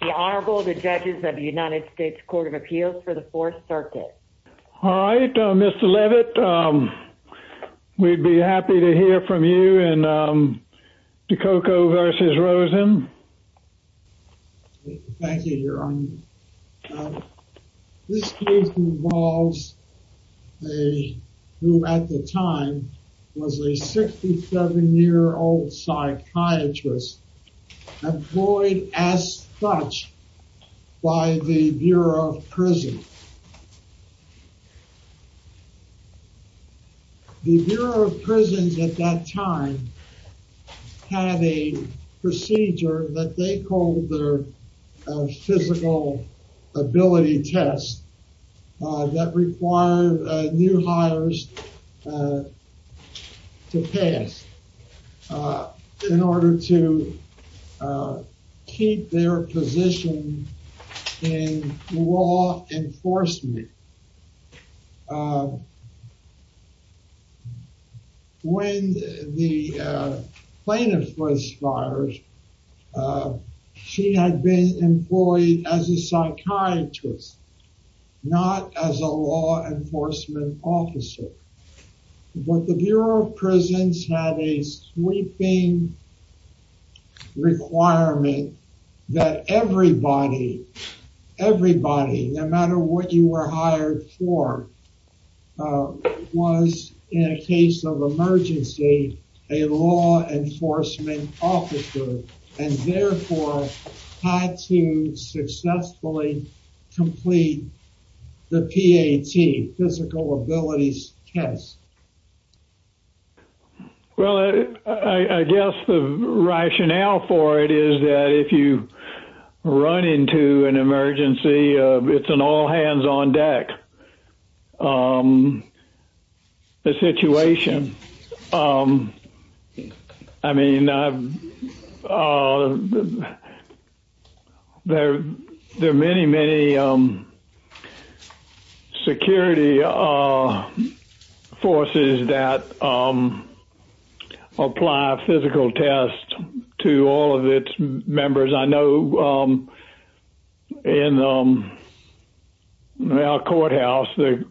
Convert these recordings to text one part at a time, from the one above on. The Honorable, the Judges of the United States Court of Appeals for the Fourth Circuit. All right, Mr. Levitt, we'd be happy to hear from you and DiCocco v. psychiatrists employed as such by the Bureau of Prisons. The Bureau of Prisons at that time had a procedure that they called the physical ability test that required new hires to pass in order to keep their position in law enforcement. When the plaintiff was fired, she had been employed as a psychiatrist, not as a law enforcement officer, but the Bureau of Prisons had a sweeping requirement that everybody, everybody, no matter what you were hired for, was, in a case of emergency, a law enforcement officer and therefore had to successfully complete the PAT, physical abilities test. Well, I guess the rationale for it is that if you run into an emergency, it's an all-hands-on-deck situation. I mean, there are many, many security forces that apply a physical test to all of its members. I know in our courthouse, the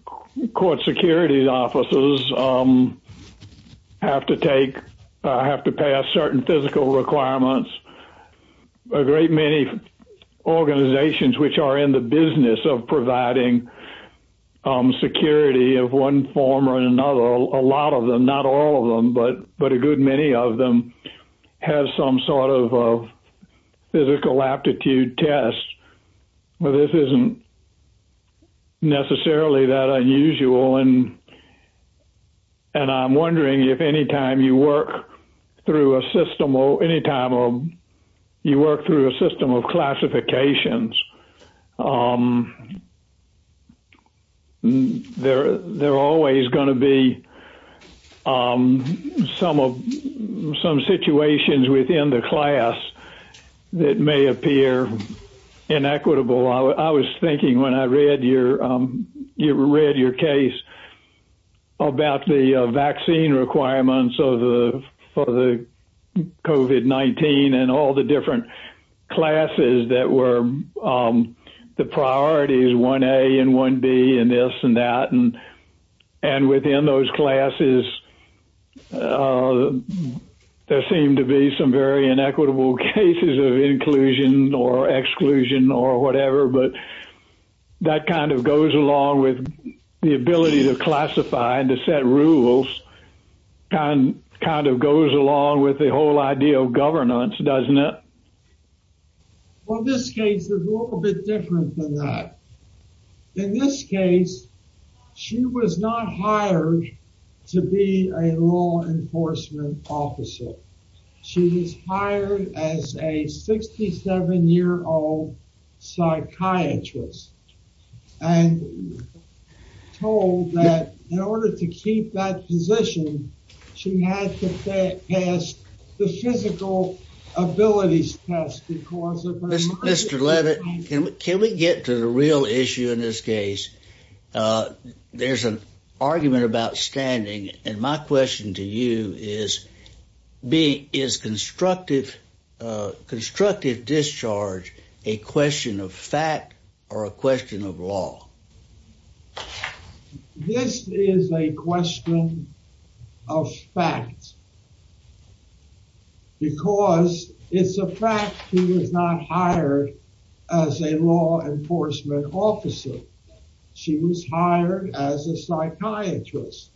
court security officers have to take, have certain physical requirements. A great many organizations which are in the business of providing security of one form or another, a lot of them, not all of them, but a good many of them, have some sort of physical aptitude test. Well, this isn't necessarily that unusual. And I'm wondering if anytime you work through a system or anytime you work through a system of classifications, there are always going to be some of some situations within the class that may appear inequitable. I was thinking when I read your case about the vaccine requirements of the COVID-19 and all the different classes that were the priorities, 1A and 1B and this and that. And within those classes, there seemed to be some very inequitable cases of inclusion or exclusion or whatever. But that kind of goes along with the ability to classify and to set rules, kind of goes along with the whole idea of governance, doesn't it? Well, this case is a little bit different than that. In this case, she was not hired to be a law enforcement officer. She was hired as a 67 year old psychiatrist. And told that in order to keep that position, she had to pass the physical abilities test because of her mind. Mr. Leavitt, can we get to the real issue in this case? There's an argument about standing. And my question to you is, is constructive discharge a question of fact or a question of law? This is a question of fact. Because it's a fact she was not hired as a law enforcement officer. She was hired as a psychiatrist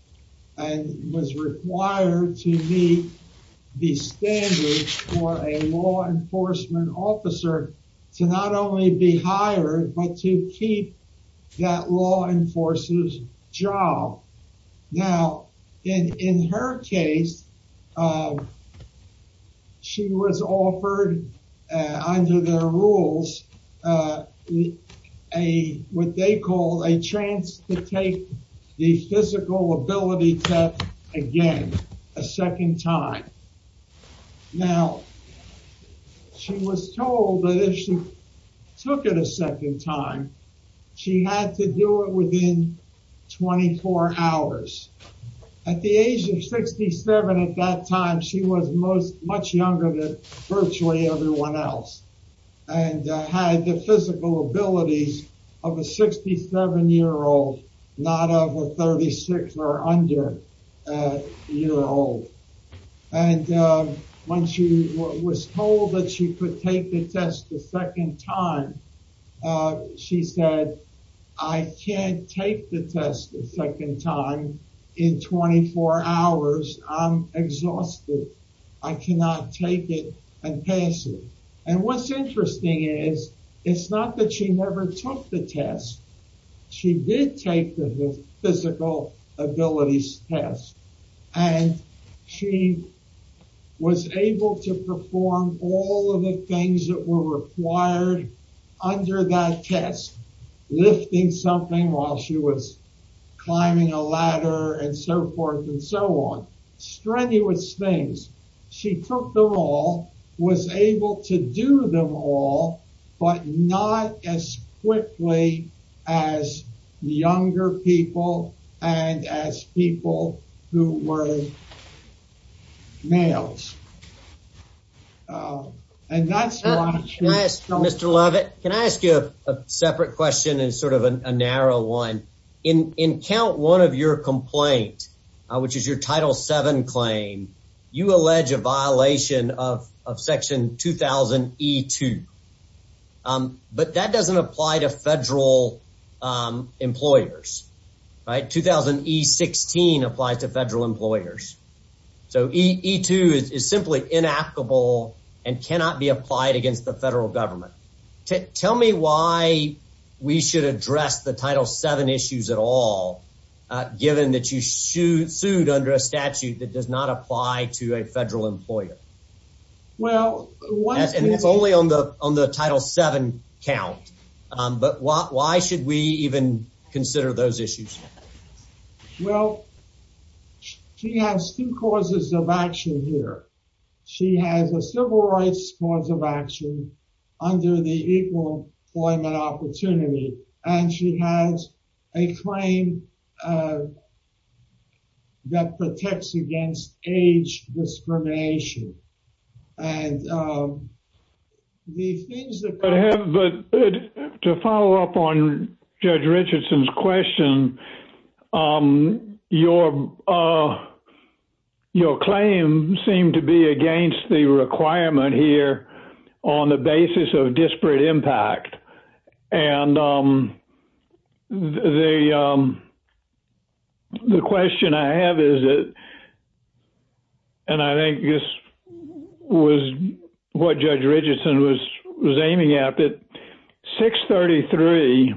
and was required to meet the standards for a law enforcement officer to not only be hired, but to keep that law enforcers job. Now, in her case, she was offered under their rules, a, what they call a chance to take the physical ability test again, a second time. Now, she was told that if she took it a second time, she had to do it within 24 hours. At the age of 67 at that time, she was much younger than virtually everyone else. And had the physical abilities of a 67 year old, not of a 36 or under year old. And when she was told that she could take the test the second time, she said, I can't take the test the second time in 24 hours. I'm exhausted. I cannot take it and pass it. And what's interesting is, it's not that she never took the test. She did take the physical abilities test and she was able to perform all of the things that were required under that test. Lifting something while she was climbing a ladder and so forth and so on. Strenuous things. She took them all, was able to do them all, but not as quickly as younger people and as people who were males. And that's why she- Mr. Lovett, can I ask you a separate question and sort of a narrow one? In count one of your complaint, which is your title seven claim, you allege a violation of section 2000E2. But that doesn't apply to federal employers. Right? 2000E16 applies to federal employers. So E2 is simply inapplicable and cannot be applied against the federal government. Tell me why we should address the title seven issues at all, given that you sued under a statute that does not apply to a federal employer. And it's only on the title seven count. But why should we even consider those issues? Well, she has two causes of action here. She has a civil rights cause of action under the Equal Employment Opportunity, and she has a claim that protects against age discrimination. And the things that- But to follow up on Judge Richardson's question, your claim seemed to be against the requirement here on the basis of disparate impact. And the question I have is that, and I think this was what Judge Richardson was aiming at, that 633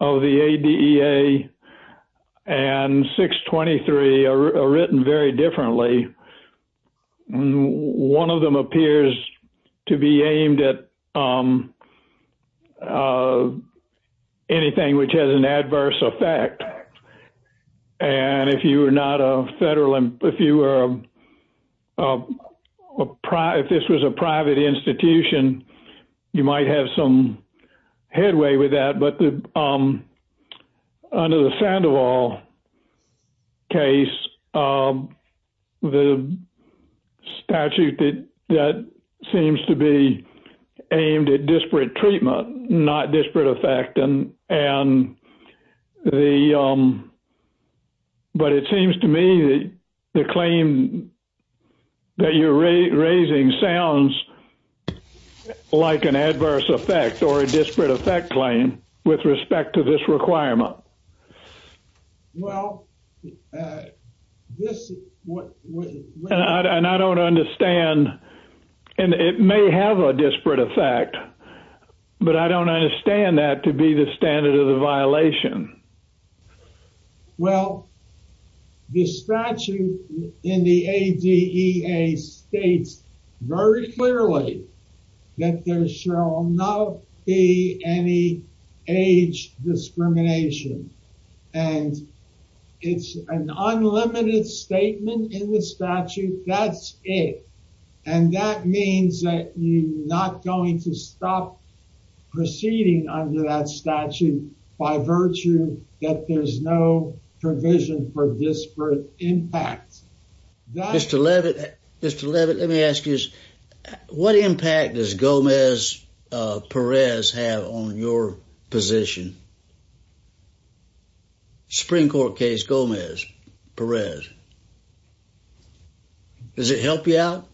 of the ADEA and 623 are written very differently. One of them appears to be aimed at anything which has an adverse effect. And if you are not a federal, if this was a private institution, you might have some headway with that. But under the Sandoval case, the statute that seems to be aimed at disparate treatment, not disparate effect. And the, but it seems to me that the claim that you're raising sounds like an adverse effect or a disparate effect claim with respect to this requirement. Well, this is what- And I don't understand, and it may have a disparate effect, but I don't understand that to be the standard of the violation. Well, the statute in the ADEA states very clearly that there shall not be any age discrimination. And it's an unlimited statement in the statute. That's it. And that means that you're not going to stop proceeding under that statute by virtue that there's no provision for disparate impact. Mr. Levitt, Mr. Levitt, let me ask you this. What impact does Gomez Perez have on your position? Supreme Court case Gomez Perez. Does it help you out?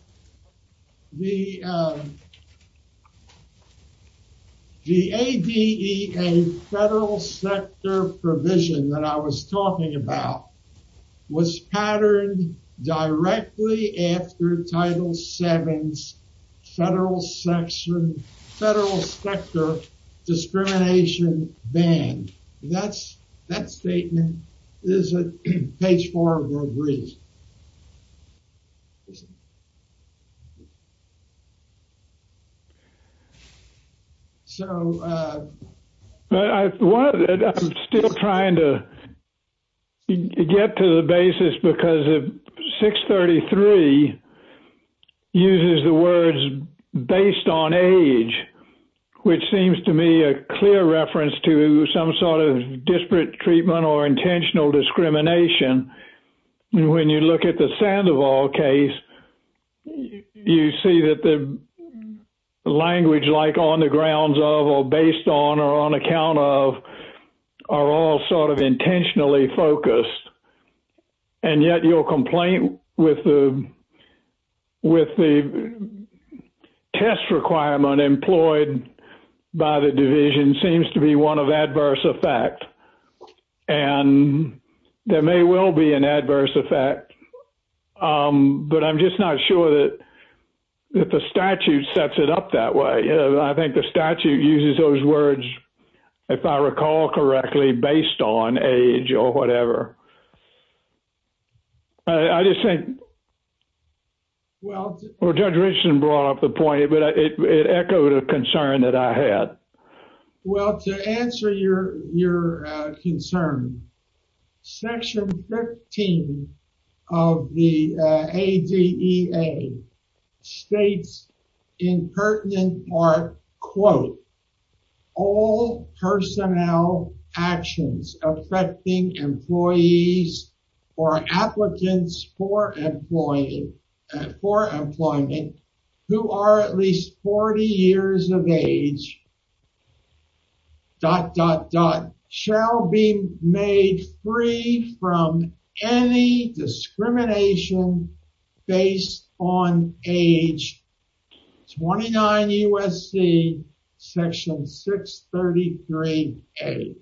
The ADEA federal sector provision that I was talking about was patterned directly after Title VII's federal section, federal sector discrimination ban. That's, that statement is at page four of your brief. I'm still trying to get to the basis because 633 uses the words based on age, which seems to me a clear reference to some sort of disparate treatment or when you look at the Sandoval case, you see that the language like on the grounds of or based on or on account of are all sort of intentionally focused. And yet your complaint with the, with the test requirement employed by the state. But I'm just not sure that the statute sets it up that way. I think the statute uses those words, if I recall correctly, based on age or whatever. I just think, well, Judge Richardson brought up the point, but it echoed a concern. Section 15 of the ADEA states in pertinent part, quote, all personnel actions affecting employees or applicants for employment who are at least 40 years of age, dot, dot, dot, shall be made free from any discrimination based on age. 29 USC section 633A.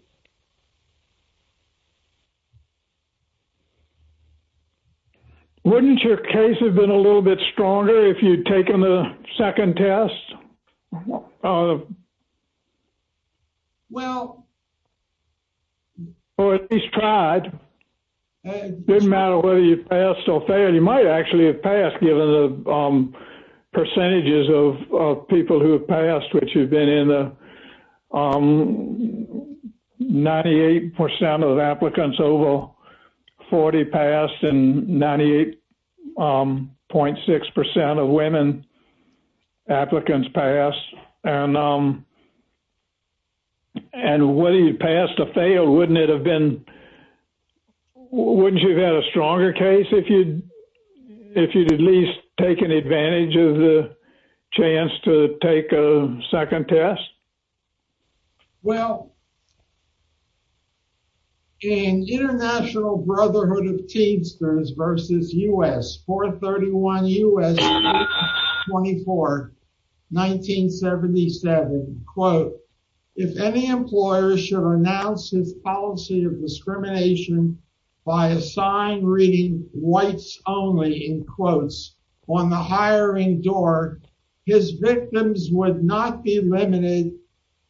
Wouldn't your case have been a little bit stronger if you'd taken the second test? Well, or at least tried. It doesn't matter whether you passed or failed, you might actually have passed given the percentages of people who have passed which you've been in the 98% of applicants over 40 passed and 98.6% of women applicants passed and and whether you passed or failed, wouldn't it have been? Wouldn't you have had a stronger case if you'd if you'd at least taken advantage of the chance to take a second test? Well, in International Brotherhood of Teens versus US 431 U.S. 24, 1977, quote, if any employer should announce his policy of discrimination by a sign reading whites only in quotes on the hiring door, his victims would not be limited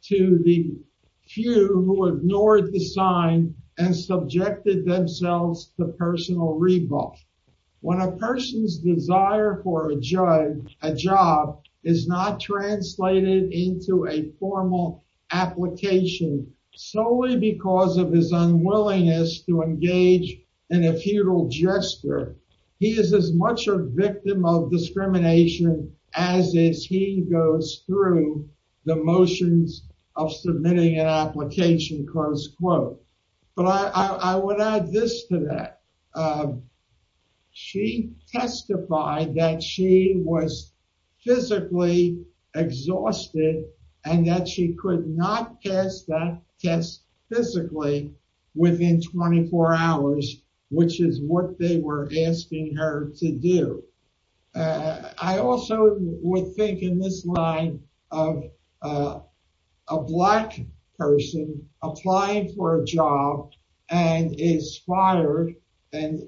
to the few who ignored the sign and subjected themselves to personal revolt. When a person's desire for a job, a job is not translated into a formal application solely because of his unwillingness to engage in a futile gesture. He is as much a victim of discrimination as is. He goes through the motions of submitting an application close quote. But I would add this to that. She testified that she was physically exhausted and that she could not pass that test physically within 24 hours, which is what they were asking her to do. I also would think in this line of a black person applying for a job and is fired and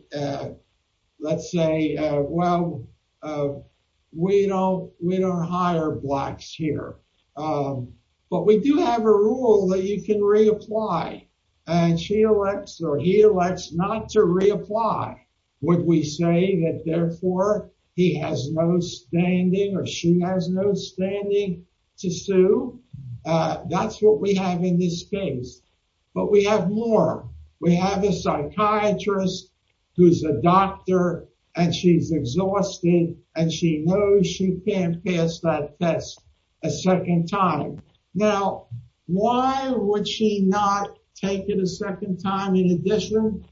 let's say, well, we don't we don't hire blacks here. But we do have a rule that you can reapply and she elects or he elects not to reapply. Would we say that therefore he has no standing or she has no standing to sue? That's what we have in this case. But we have more. We have a psychiatrist who's a doctor and she's exhausted and she knows she can't pass that test a second time. Now, why would she not take it a second time in addition?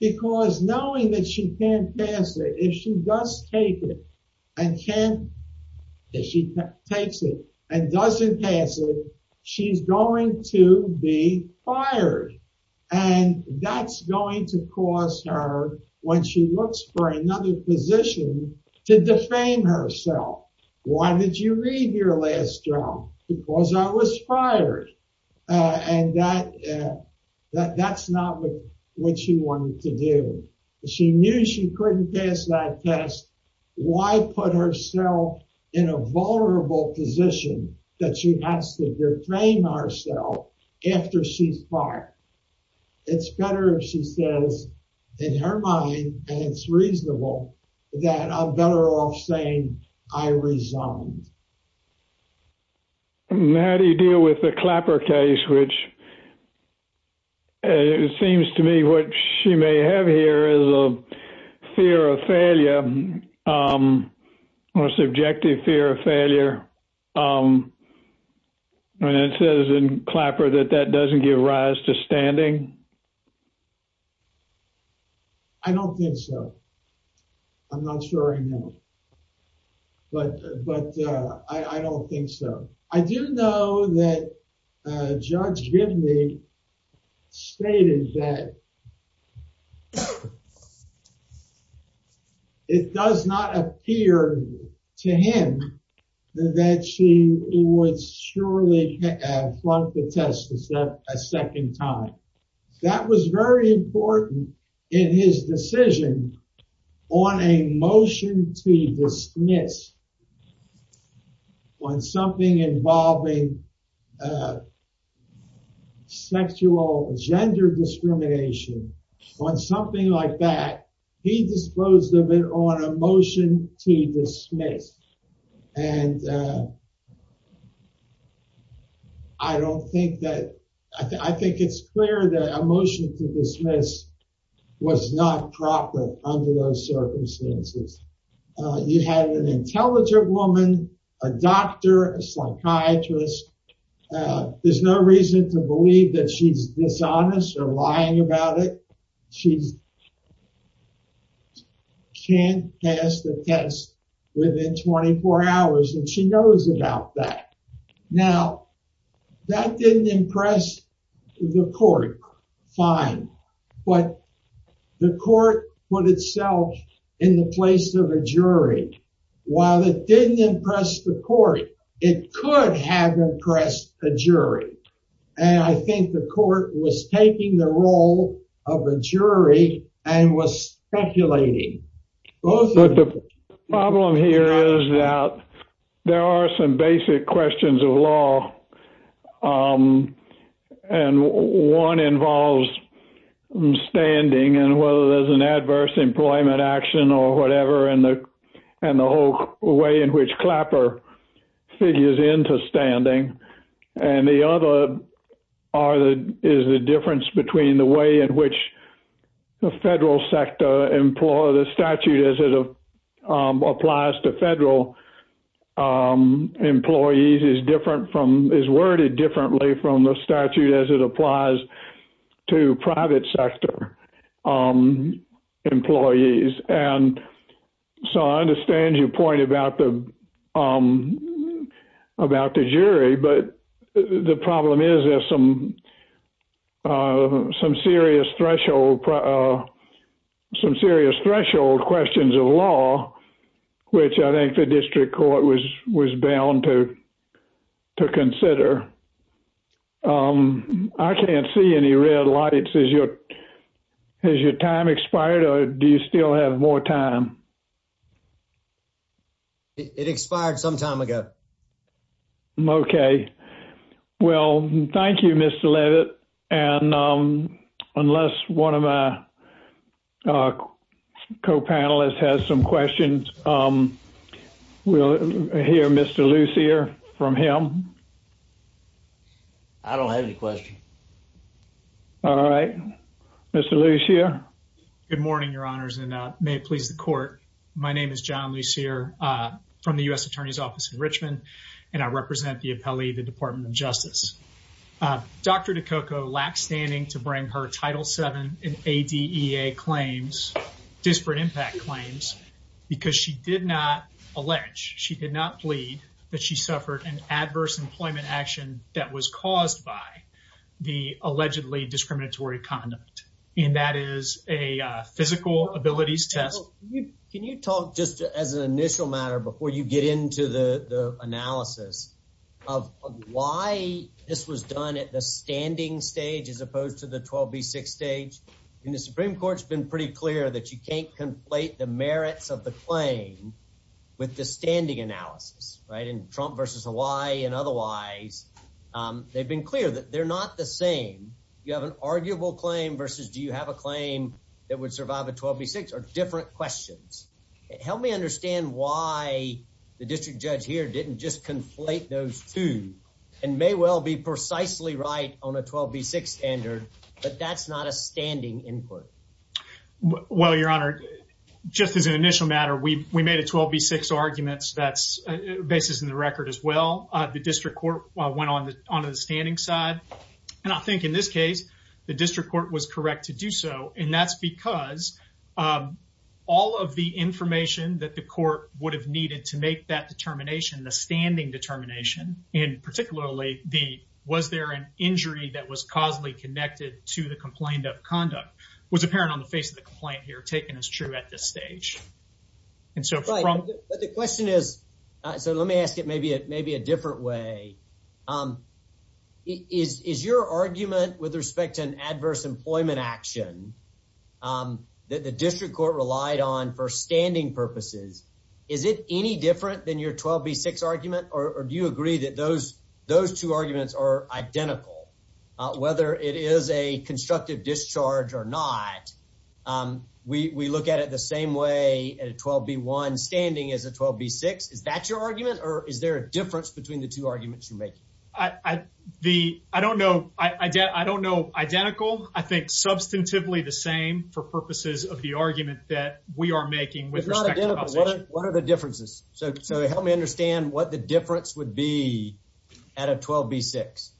Because knowing that she can't and can't she takes it and doesn't pass it, she's going to be fired. And that's going to cause her when she looks for another position to defame herself. Why did you read your last job? Because I was fired. And that that's not what she wanted to do. She knew she couldn't pass that test. Why put herself in a vulnerable position that she has to defame herself after she's fired? It's better, she says, in her mind, and it's reasonable that I'm better off saying I may have here is a fear of failure, or subjective fear of failure. And it says in Clapper that that doesn't give rise to standing. I don't think so. I'm not sure I know. But But I don't think so. I didn't know that Judge Gibney stated that it does not appear to him that she would surely flunk the test a second time. That was very important in his decision on a motion to dismiss on something involving sexual gender discrimination on something like that. He disclosed a bit on a motion to dismiss. And I don't think that I think it's clear that a motion to dismiss was not proper under those circumstances. You had an intelligent woman, a doctor, a psychiatrist. There's no reason to believe that she's dishonest or lying about it. She's can't pass the test within 24 hours. And she knows about that. Now, that didn't impress the court. Fine. But the court put itself in the place of a jury. While it didn't impress the court, it could have impressed a jury. And I think the court was taking the role of a jury and was speculating. Well, the problem here is that there are some basic questions of law. And one involves standing and whether there's an adverse employment action or whatever and the and the whole way in which clapper figures into standing. And the other are the is the difference between the way in which the federal sector employer the statute as it applies to federal employees is different from is worded differently from the statute as it applies to private sector employees. And so I understand your point about the about the jury. But the problem is there's some some serious threshold, some serious threshold questions of law, which I think the district court was was bound to to consider. I can't see any red lights as your as your time expired, or do you still have more time? It expired some time ago. Okay. Well, thank you, Mr. Levitt. And unless one of our co panelists has some questions, we'll hear Mr. Lucier from him. I don't have any question. All right, Mr. Lucier. Good morning, Your Honors, and may it please the court. My name is John Lucier from the U.S. Attorney's Office in Richmond, and I represent the appellee, the Department of Justice. Dr. DeCoco lacked standing to bring her Title seven in a D.A. claims disparate impact claims because she did not allege she did not plead that she suffered an adverse employment action that was caused by the allegedly discriminatory conduct. And that is a physical abilities test. Can you talk just as an initial matter before you get into the analysis of why this was done at the standing stage as opposed to the 12 B six stage in the Supreme Court's been pretty clear that you can't conflate the merits of the claim with the standing analysis, right? And Trump versus Hawaii and otherwise, they've been clear that they're not the same. You have an arguable claim versus do you have a claim that would survive a 12 B six or different questions? Help me understand why the district judge here didn't just conflate those two and may well be precisely right on a 12 B six standard. But that's not a standing input. Well, Your Honor, just as an initial matter, we made a 12 B six arguments. That's basis in the record as well. The district court went on the standing side. And I think in this case, the district court was correct to do so. And that's because, um, all of the information that the court would have needed to make that determination, the standing determination and particularly the was there an injury that was causally connected to the complaint of conduct was apparent on the face of the complaint here taken as true at this stage. And so from the question is, so let me ask it. Maybe it may be a is your argument with respect to an adverse employment action, um, that the district court relied on for standing purposes. Is it any different than your 12 B six argument? Or do you agree that those those two arguments are identical whether it is a constructive discharge or not? Um, we we look at it the same way at 12 B one standing as a 12 B six. Is that your argument? Or is there a two arguments you make? I don't know. I don't know. Identical. I think substantively the same for purposes of the argument that we are making with respect. What are the differences? So help me understand what the difference would be at a 12 B six.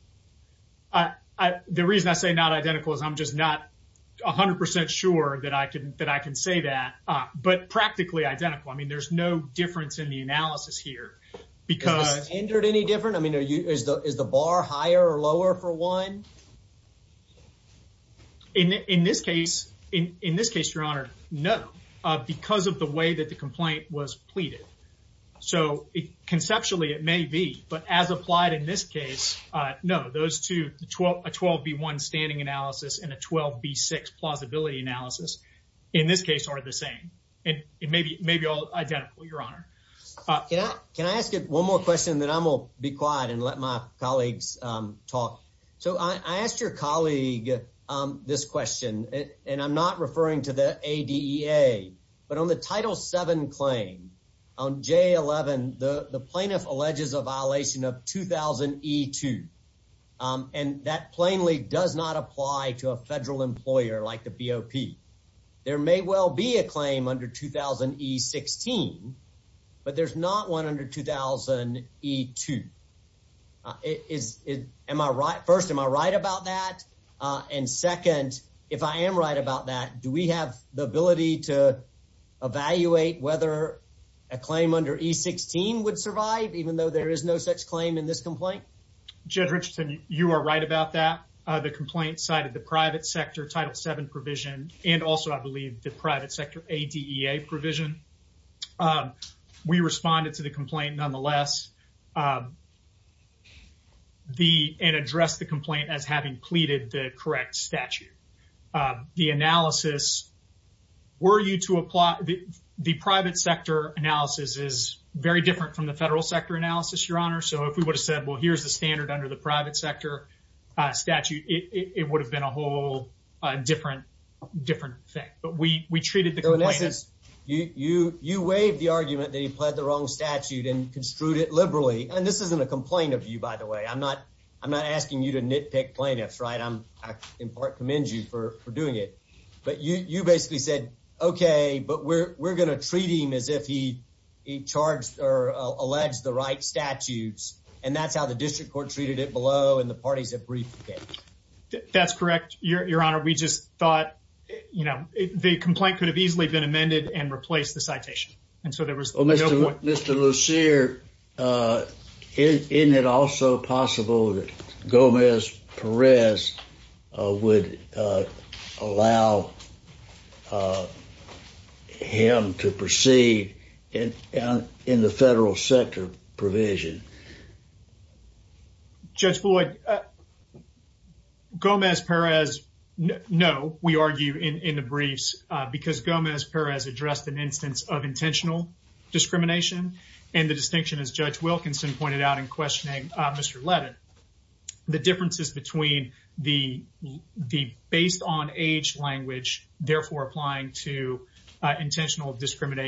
The reason I say not identical is I'm just not 100% sure that I could that I can say that. But practically identical. I mean, there's no difference in the different. I mean, is the bar higher or lower for one in this case? In this case, Your Honor? No, because of the way that the complaint was pleaded. So conceptually, it may be. But as applied in this case, no, those two 12 12 B one standing analysis and a 12 B six plausibility analysis in this case are the same. And it may be may be all identical. Your Honor, can I ask you one more question that I'm will be quiet and let my colleagues talk. So I asked your colleague this question, and I'm not referring to the A. D. A. But on the title seven claim on J. 11, the plaintiff alleges a violation of 2000 e two. Um, and that plainly does not apply to a federal employer like the B O P. There may well be a claim under 2000 e 16, but there's not one under 2000 e two. It is. Am I right? First, am I right about that? And second, if I am right about that, do we have the ability to evaluate whether a claim under e 16 would survive even though there is no such claim in this complaint? Jed Richardson, you are right about that. The complaint cited the private sector title seven provision and also, I believe, the private sector A. D. A. Provision. Um, we responded to the complaint nonetheless. Um, the and address the complaint as having pleaded the correct statute. The analysis were you to apply the private sector analysis is very different from the federal sector analysis, Your Honor. So if we would have said, Well, here's the standard under the private sector statute, it would have been a different, different thing. But we we treated this. You You You waived the argument that he pled the wrong statute and construed it liberally. And this isn't a complaint of you, by the way. I'm not I'm not asking you to nitpick plaintiffs, right? I'm in part commend you for doing it. But you basically said, Okay, but we're gonna treat him as if he charged or alleged the right statutes. And that's how the district court treated it below. And the parties have briefed. That's correct, Your Honor. We just thought, you know, the complaint could have easily been amended and replaced the citation. And so there was Mr Lucier. Uh, in it also possible that Gomez Perez, uh, would, uh, allow, uh, him to proceed in in the federal sector provision. Judge Floyd, uh, Gomez Perez. No, we argue in in the briefs because Gomez Perez addressed an instance of intentional discrimination and the distinction, as Judge Wilkinson pointed out in questioning Mr Levin, the differences between the the based on age language, therefore applying to Gomez Perez would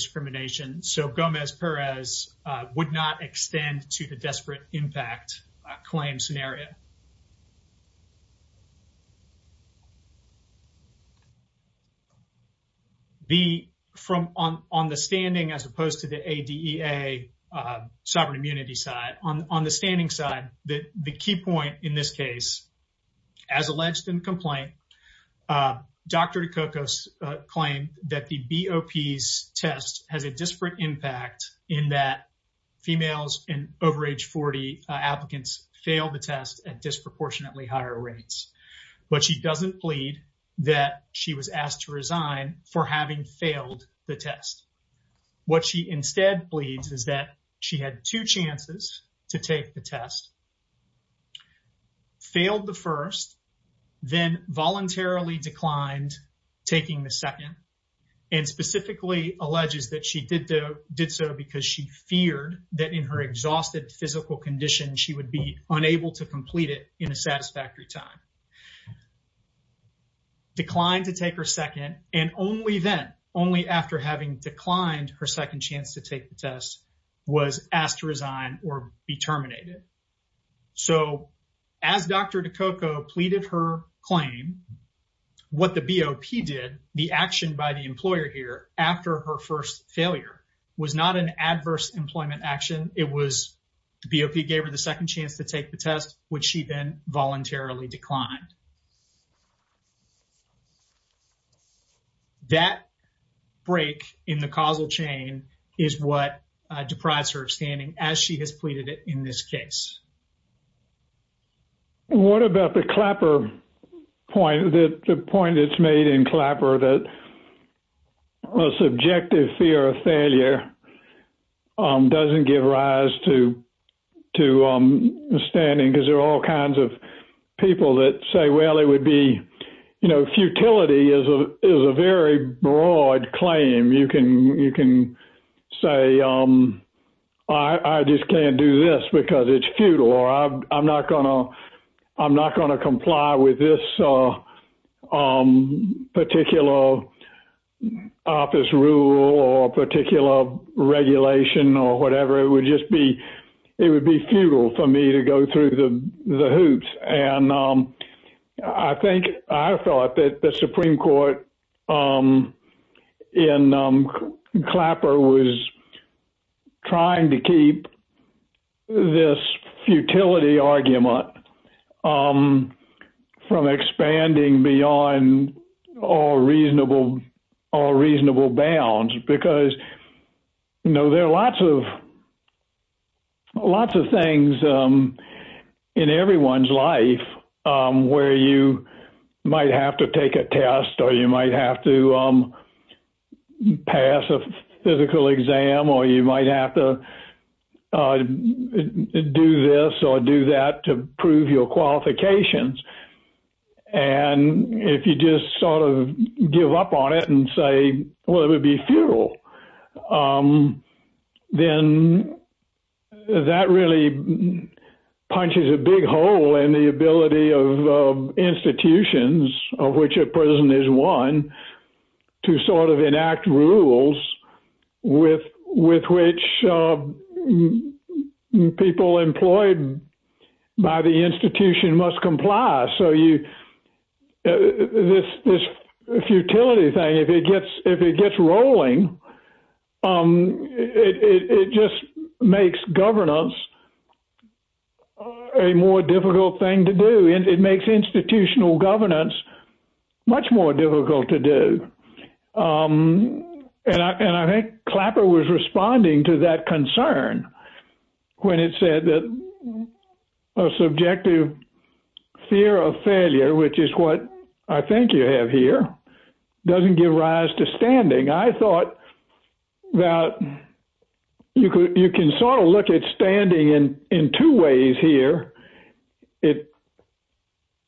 not extend to the desperate impact claim scenario. The from on on the standing as opposed to the A. D. E. A. Uh, sovereign immunity side on on the standing side that the key point in this case, as has a disparate impact in that females in over age 40 applicants failed the test at disproportionately higher rates. But she doesn't plead that she was asked to resign for having failed the test. What she instead pleads is that she had two chances to take the test, failed the first, then voluntarily declined, taking the second and specifically alleges that she did, though, did so because she feared that in her exhausted physical condition, she would be unable to complete it in a satisfactory time, declined to take her second and only then, only after having declined her second chance to take the test, was asked to resign or be terminated. So as Dr Coco pleaded her claim, what the B. O. P. Did the action by the employer here after her first failure was not an adverse employment action. It was B. O. P. Gave her the second chance to take the test, which she then voluntarily declined. That break in the causal chain is what deprives her of standing as she has pleaded it in this case. What about the clapper point that the point it's made in clapper that subjective fear of failure doesn't give rise to to standing because there are all kinds of people that say, Well, it would be, you know, futility is a very broad claim. You can you can say, Um, I just can't do this because it's futile. I'm not gonna I'm not gonna comply with this, uh, um, particular office rule or particular regulation or whatever. It would just be it would be futile for me to go through the hoops. And, um, I think I thought that the Supreme Court, um, in, um, clapper was trying to keep this futility argument, um, from expanding beyond all reasonable, all reasonable bounds because, you know, there are lots of lots of things, um, in everyone's life where you might have to take a test or you might have to, um, pass a physical exam or you might have to, uh, do this or do that to prove your qualifications. And if you just sort of give up on it and say, Well, it would be futile. Um, then that really punches a big hole in the ability of institutions of which a prison is one to sort of enact rules with with which, uh, people employed by the institution must comply. So you this this futility thing, if it gets if it gets rolling, um, it just makes governance a more difficult thing to do. And it makes institutional governance much more difficult to do. Um, and I think clapper was responding to that concern when it said that a subjective fear of failure, which is what I think you have here, doesn't give rise to standing. I thought that you could you can sort of look at standing and in two ways here. It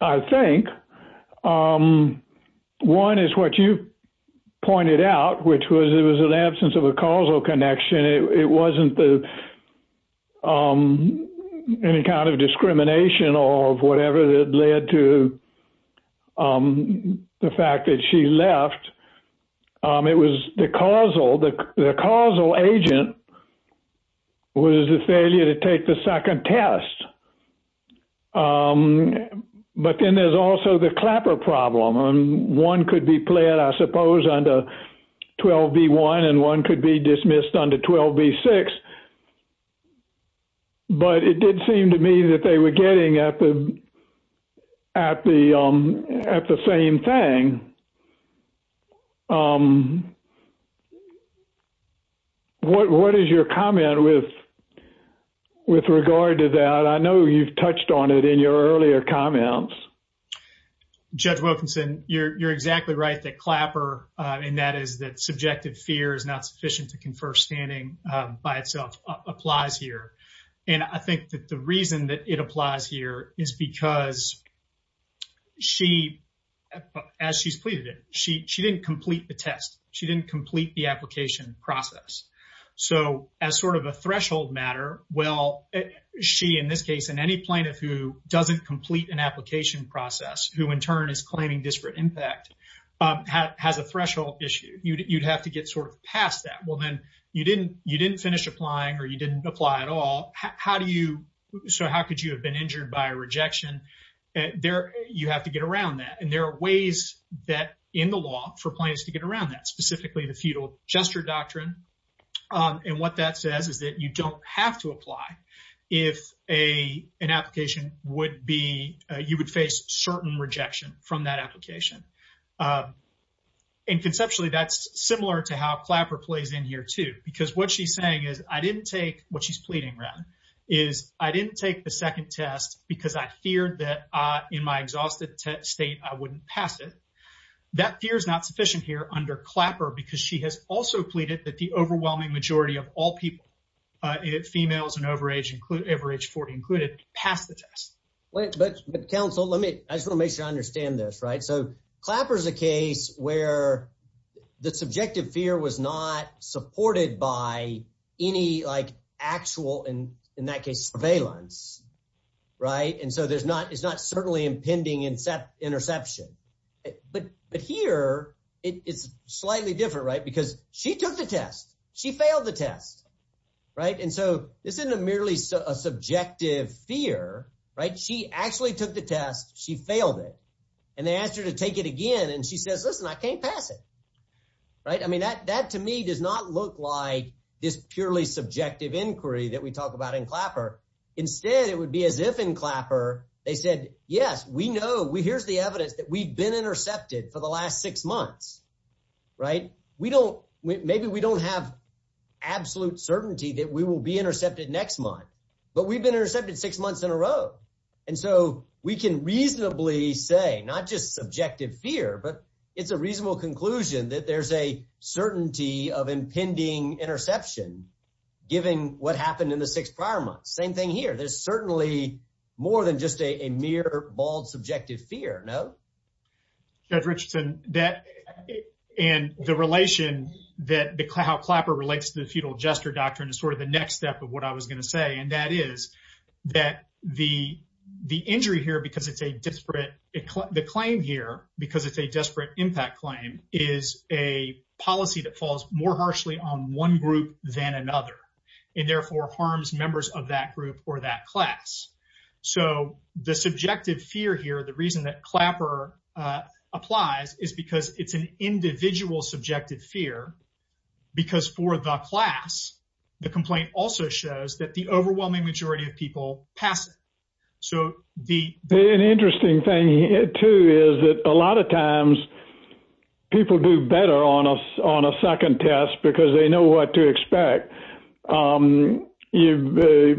I think, um, one is what you pointed out, which was it was an absence of a causal connection. It wasn't the, um, any kind of discrimination or whatever that led to, um, the fact that she left. Um, it was the causal the causal agent was a failure to take the second test. Um, but then there's also the clapper problem on one could be played, I suppose, under 12 B one and one could be dismissed under 12 B six. But it did seem to me that they were getting at the at the at the same thing. Um, what? What is your comment with with regard to that? I know you've touched on it in your earlier comments. Judge Wilkinson, you're exactly right. That clapper in that is that subjective fear is not sufficient to confer standing by itself applies here. And I think that the reason that it applies here is because she as she's pleaded it, she didn't complete the test. She didn't complete the application process. So as sort of a threshold matter, well, she in this case, in any plaintiff who doesn't complete an application process, who in turn is you'd have to get sort of past that. Well, then you didn't. You didn't finish applying, or you didn't apply at all. How do you? So how could you have been injured by a rejection there? You have to get around that. And there are ways that in the law for plans to get around that, specifically the feudal gesture doctrine. Um, and what that says is that you don't have to apply. If a application would be, you would face certain rejection from that application. Um, and conceptually, that's similar to how clapper plays in here, too, because what she's saying is I didn't take what she's pleading around is I didn't take the second test because I feared that in my exhausted state, I wouldn't pass it. That fear is not sufficient here under clapper, because she has also pleaded that the overwhelming majority of all people, uh, females and overage include average 40 included past the test. But Council, let me just make sure I clapper is a case where the subjective fear was not supported by any, like actual and in that case surveillance, right? And so there's not. It's not certainly impending and set interception. But here it is slightly different, right? Because she took the test. She failed the test, right? And so this isn't a merely a subjective fear, right? She actually took the test. She failed it, and they asked her to take it again. And she says, Listen, I can't pass it, right? I mean, that that to me does not look like this purely subjective inquiry that we talk about in clapper. Instead, it would be as if in clapper, they said, Yes, we know we here's the evidence that we've been intercepted for the last six months, right? We don't. Maybe we don't have absolute certainty that we will be intercepted next month, but we've been intercepted six months in a row. And so we can reasonably say not just subjective fear, but it's a reasonable conclusion that there's a certainty of impending interception, giving what happened in the six prior months. Same thing here. There's certainly more than just a mere, bald, subjective fear. No, Judge Richardson, that and the relation that how clapper relates to the feudal gesture doctrine is sort of the next step of what I was gonna say, and that is that the the injury here, because it's a disparate claim here because it's a desperate impact claim, is a policy that falls more harshly on one group than another, and therefore harms members of that group or that class. So the subjective fear here, the reason that clapper applies is because it's an individual subjective fear. Because for the class, the complaint also shows that the overwhelming majority of people pass it. So the the interesting thing here, too, is that a lot of times people do better on us on a second test, because they know what to expect. You've,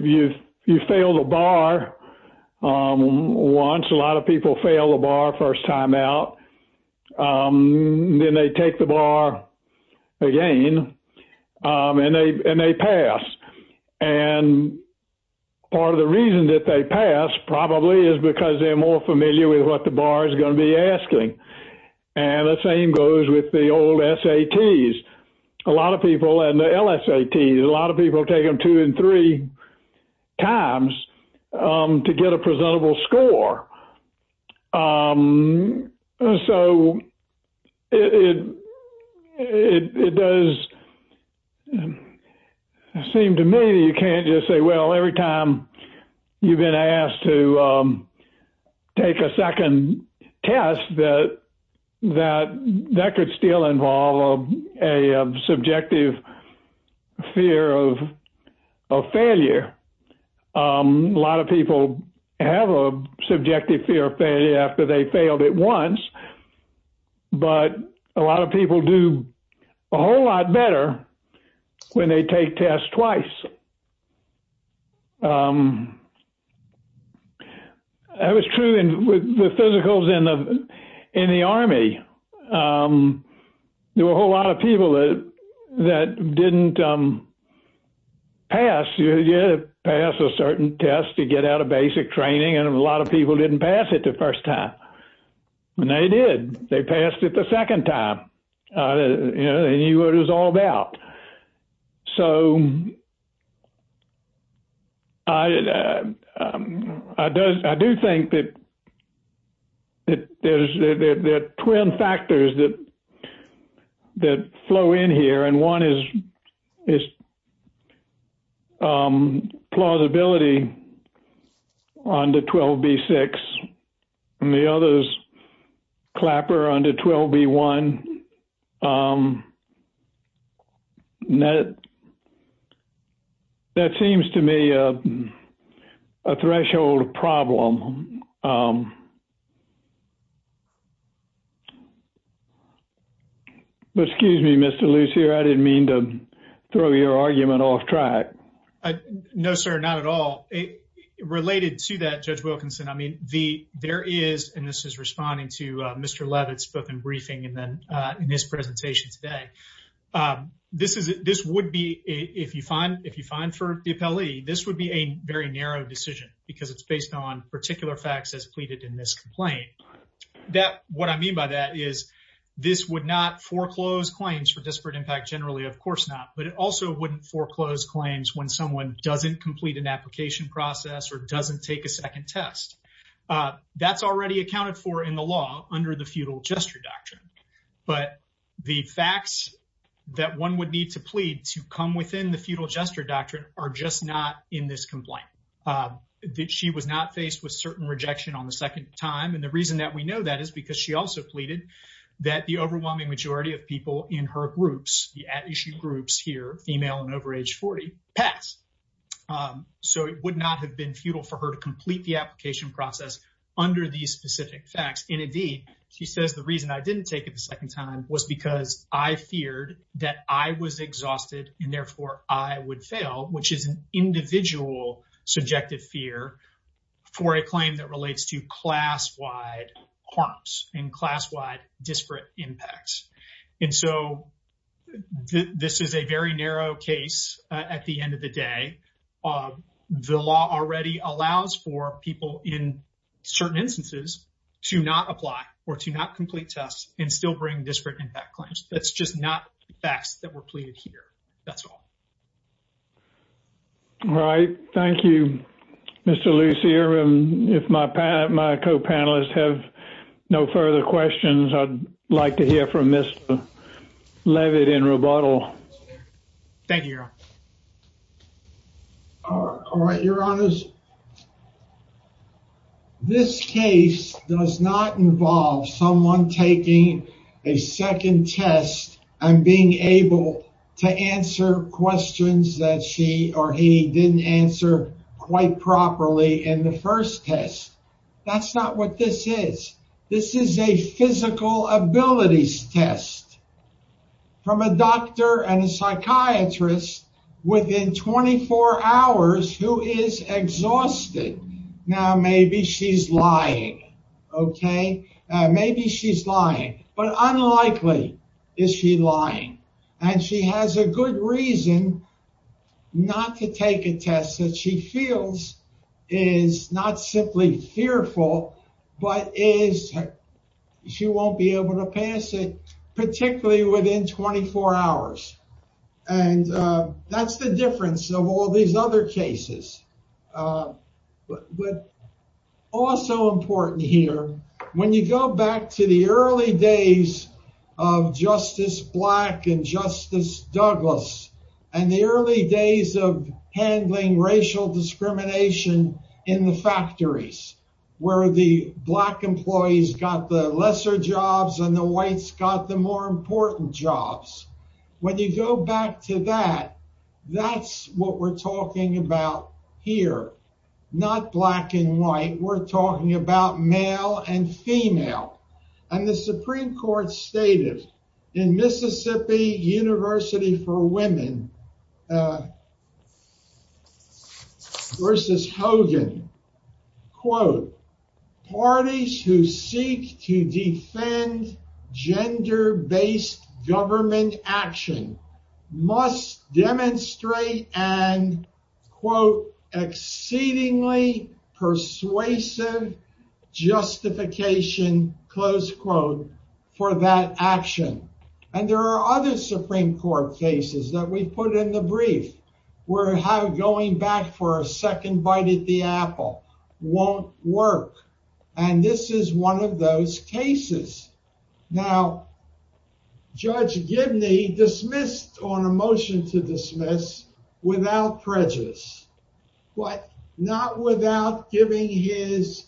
you've, you fail the bar. Once a lot of people fail the bar first time out, then they take the bar again, and they pass. And part of the reason that they pass probably is because they're more familiar with what the bar is going to be asking. And the same goes with the old SATs. A lot of people and LSATs, a lot of people take them two and three times to get a presentable score. So it does seem to me you can't just say, well, every time you've been asked to take a second test that that that could still involve a subjective fear of failure. A lot of people have a subjective fear of failure after they failed it once. But a lot of people do a whole lot better when they take tests twice. That was true with the physicals in the in the army. There were a whole lot of people that that didn't pass, you pass a certain test to get out of basic training, and a lot of people didn't pass it the first time. And they did, they passed it the second time. You know, he was all about. So I, I do think that there's that twin factors that that flow in here. And one is, is plausibility on the 12B6. And the other is clapper on the 12B1. That seems to me a threshold problem. But excuse me, Mr. Lucier, I didn't mean to throw your argument off track. No, sir, not at all. Related to that, Judge Wilkinson, I mean, the there is and this is responding to Mr. Levitt's book and briefing and then in this presentation today. This is this would be if you find if you find for the appellee, this would be a very narrow decision, because it's based on particular facts as pleaded in this complaint. That what I mean by that is, this would not foreclose claims for disparate impact generally, of course not, but it also wouldn't foreclose claims when someone doesn't complete an application process or doesn't take a second test. That's already accounted for in the law under the feudal doctrine. But the facts that one would need to plead to come within the feudal gesture doctrine are just not in this complaint. That she was not faced with certain rejection on the second time. And the reason that we know that is because she also pleaded that the overwhelming majority of people in her groups, the at issue groups here, female and over age 40, pass. So it would not have been futile for her to complete the application process under these specific facts. And indeed, she says the reason I didn't take it the second time was because I feared that I was exhausted and therefore I would fail, which is an individual subjective fear for a claim that relates to class wide harms and class wide disparate impacts. And so this is a very narrow case at the end of the day. The law already allows for people in certain instances to not apply or to not complete tests and still bring disparate impact claims. That's just not facts that were pleaded here. That's all. All right. Thank you, Mr. Lucier. And if my co-panelists have no further questions, I'd like to hear from Mr. Levitt in rebuttal. All right, your honors. This case does not involve someone taking a second test and being able to answer questions that she or he didn't answer quite properly in the first test. That's not what this is. This is a physical abilities test from a doctor and a psychiatrist within 24 hours who is exhausted. Now, maybe she's lying. OK, maybe she's lying, but unlikely is she lying and she has a good reason not to take a test that she feels is not simply fearful, but is she won't be able to pass it, particularly within 24 hours. And that's the difference of all these other cases. But also important here, when you go back to the early days of Justice Black and Justice Douglas and the early days of handling racial discrimination in the factories where the black employees got the lesser jobs and the whites got the more important jobs. When you go back to that, that's what we're talking about here, not black and white. We're talking about black women versus Hogan. Quote, parties who seek to defend gender-based government action must demonstrate an, quote, exceedingly persuasive justification, close quote, for that action. And there are other Supreme Court cases that we've put in the brief where going back for a second bite at the apple won't work. And this is one of those cases. Now, Judge Gibney dismissed on a motion to dismiss without prejudice, but not without giving his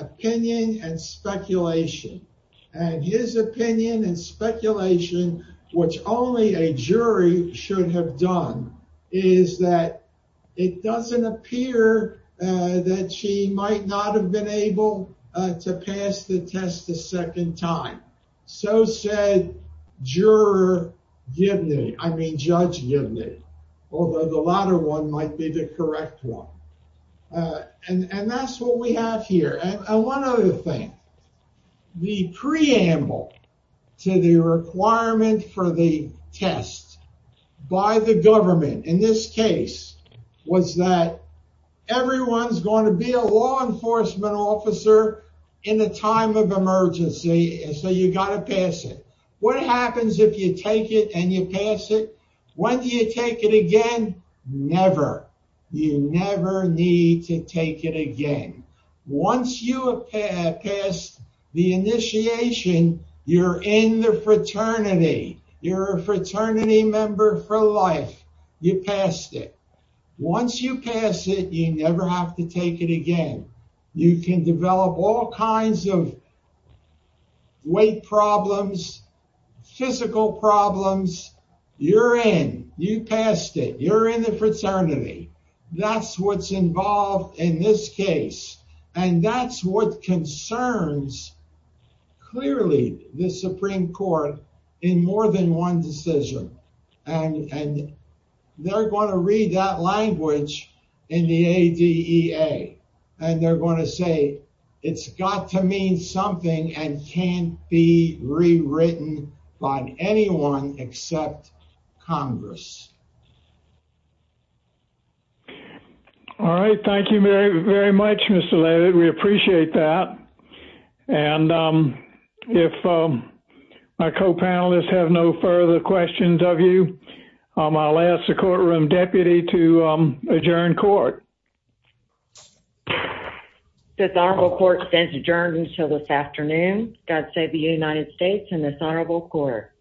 opinion and speculation. And his opinion and speculation, which only a jury should have done, is that it doesn't appear that she might not have been able to pass the test a second time. So said Judge Gibney, although the latter one might be the correct one. And that's what we have here. And one other thing, the preamble to the requirement for the test by the government in this case was that everyone's going to be a law enforcement officer in a time of emergency, and so you got to pass it. What happens if you take it and you pass it? When do you take it again? Never. You never need to take it again. Once you have passed the initiation, you're in the fraternity. You're a fraternity member for life. You passed it. Once you pass it, you never have to take it again. You can develop all kinds of weight problems, physical problems. You're in. You passed it. You're in the fraternity. That's what's involved in this case. And that's what concerns clearly the Supreme Court in more than one decision. And they're going to read that language in the ADEA, and they're going to say it's got to mean something and can't be rewritten by anyone except Congress. All right. Thank you very, very much, Mr. Leavitt. We appreciate that. And if our co-panelists have no further questions of you, I'll ask the courtroom deputy to adjourn court. This honorable court stands adjourned until this afternoon. God save the United States and this honorable court.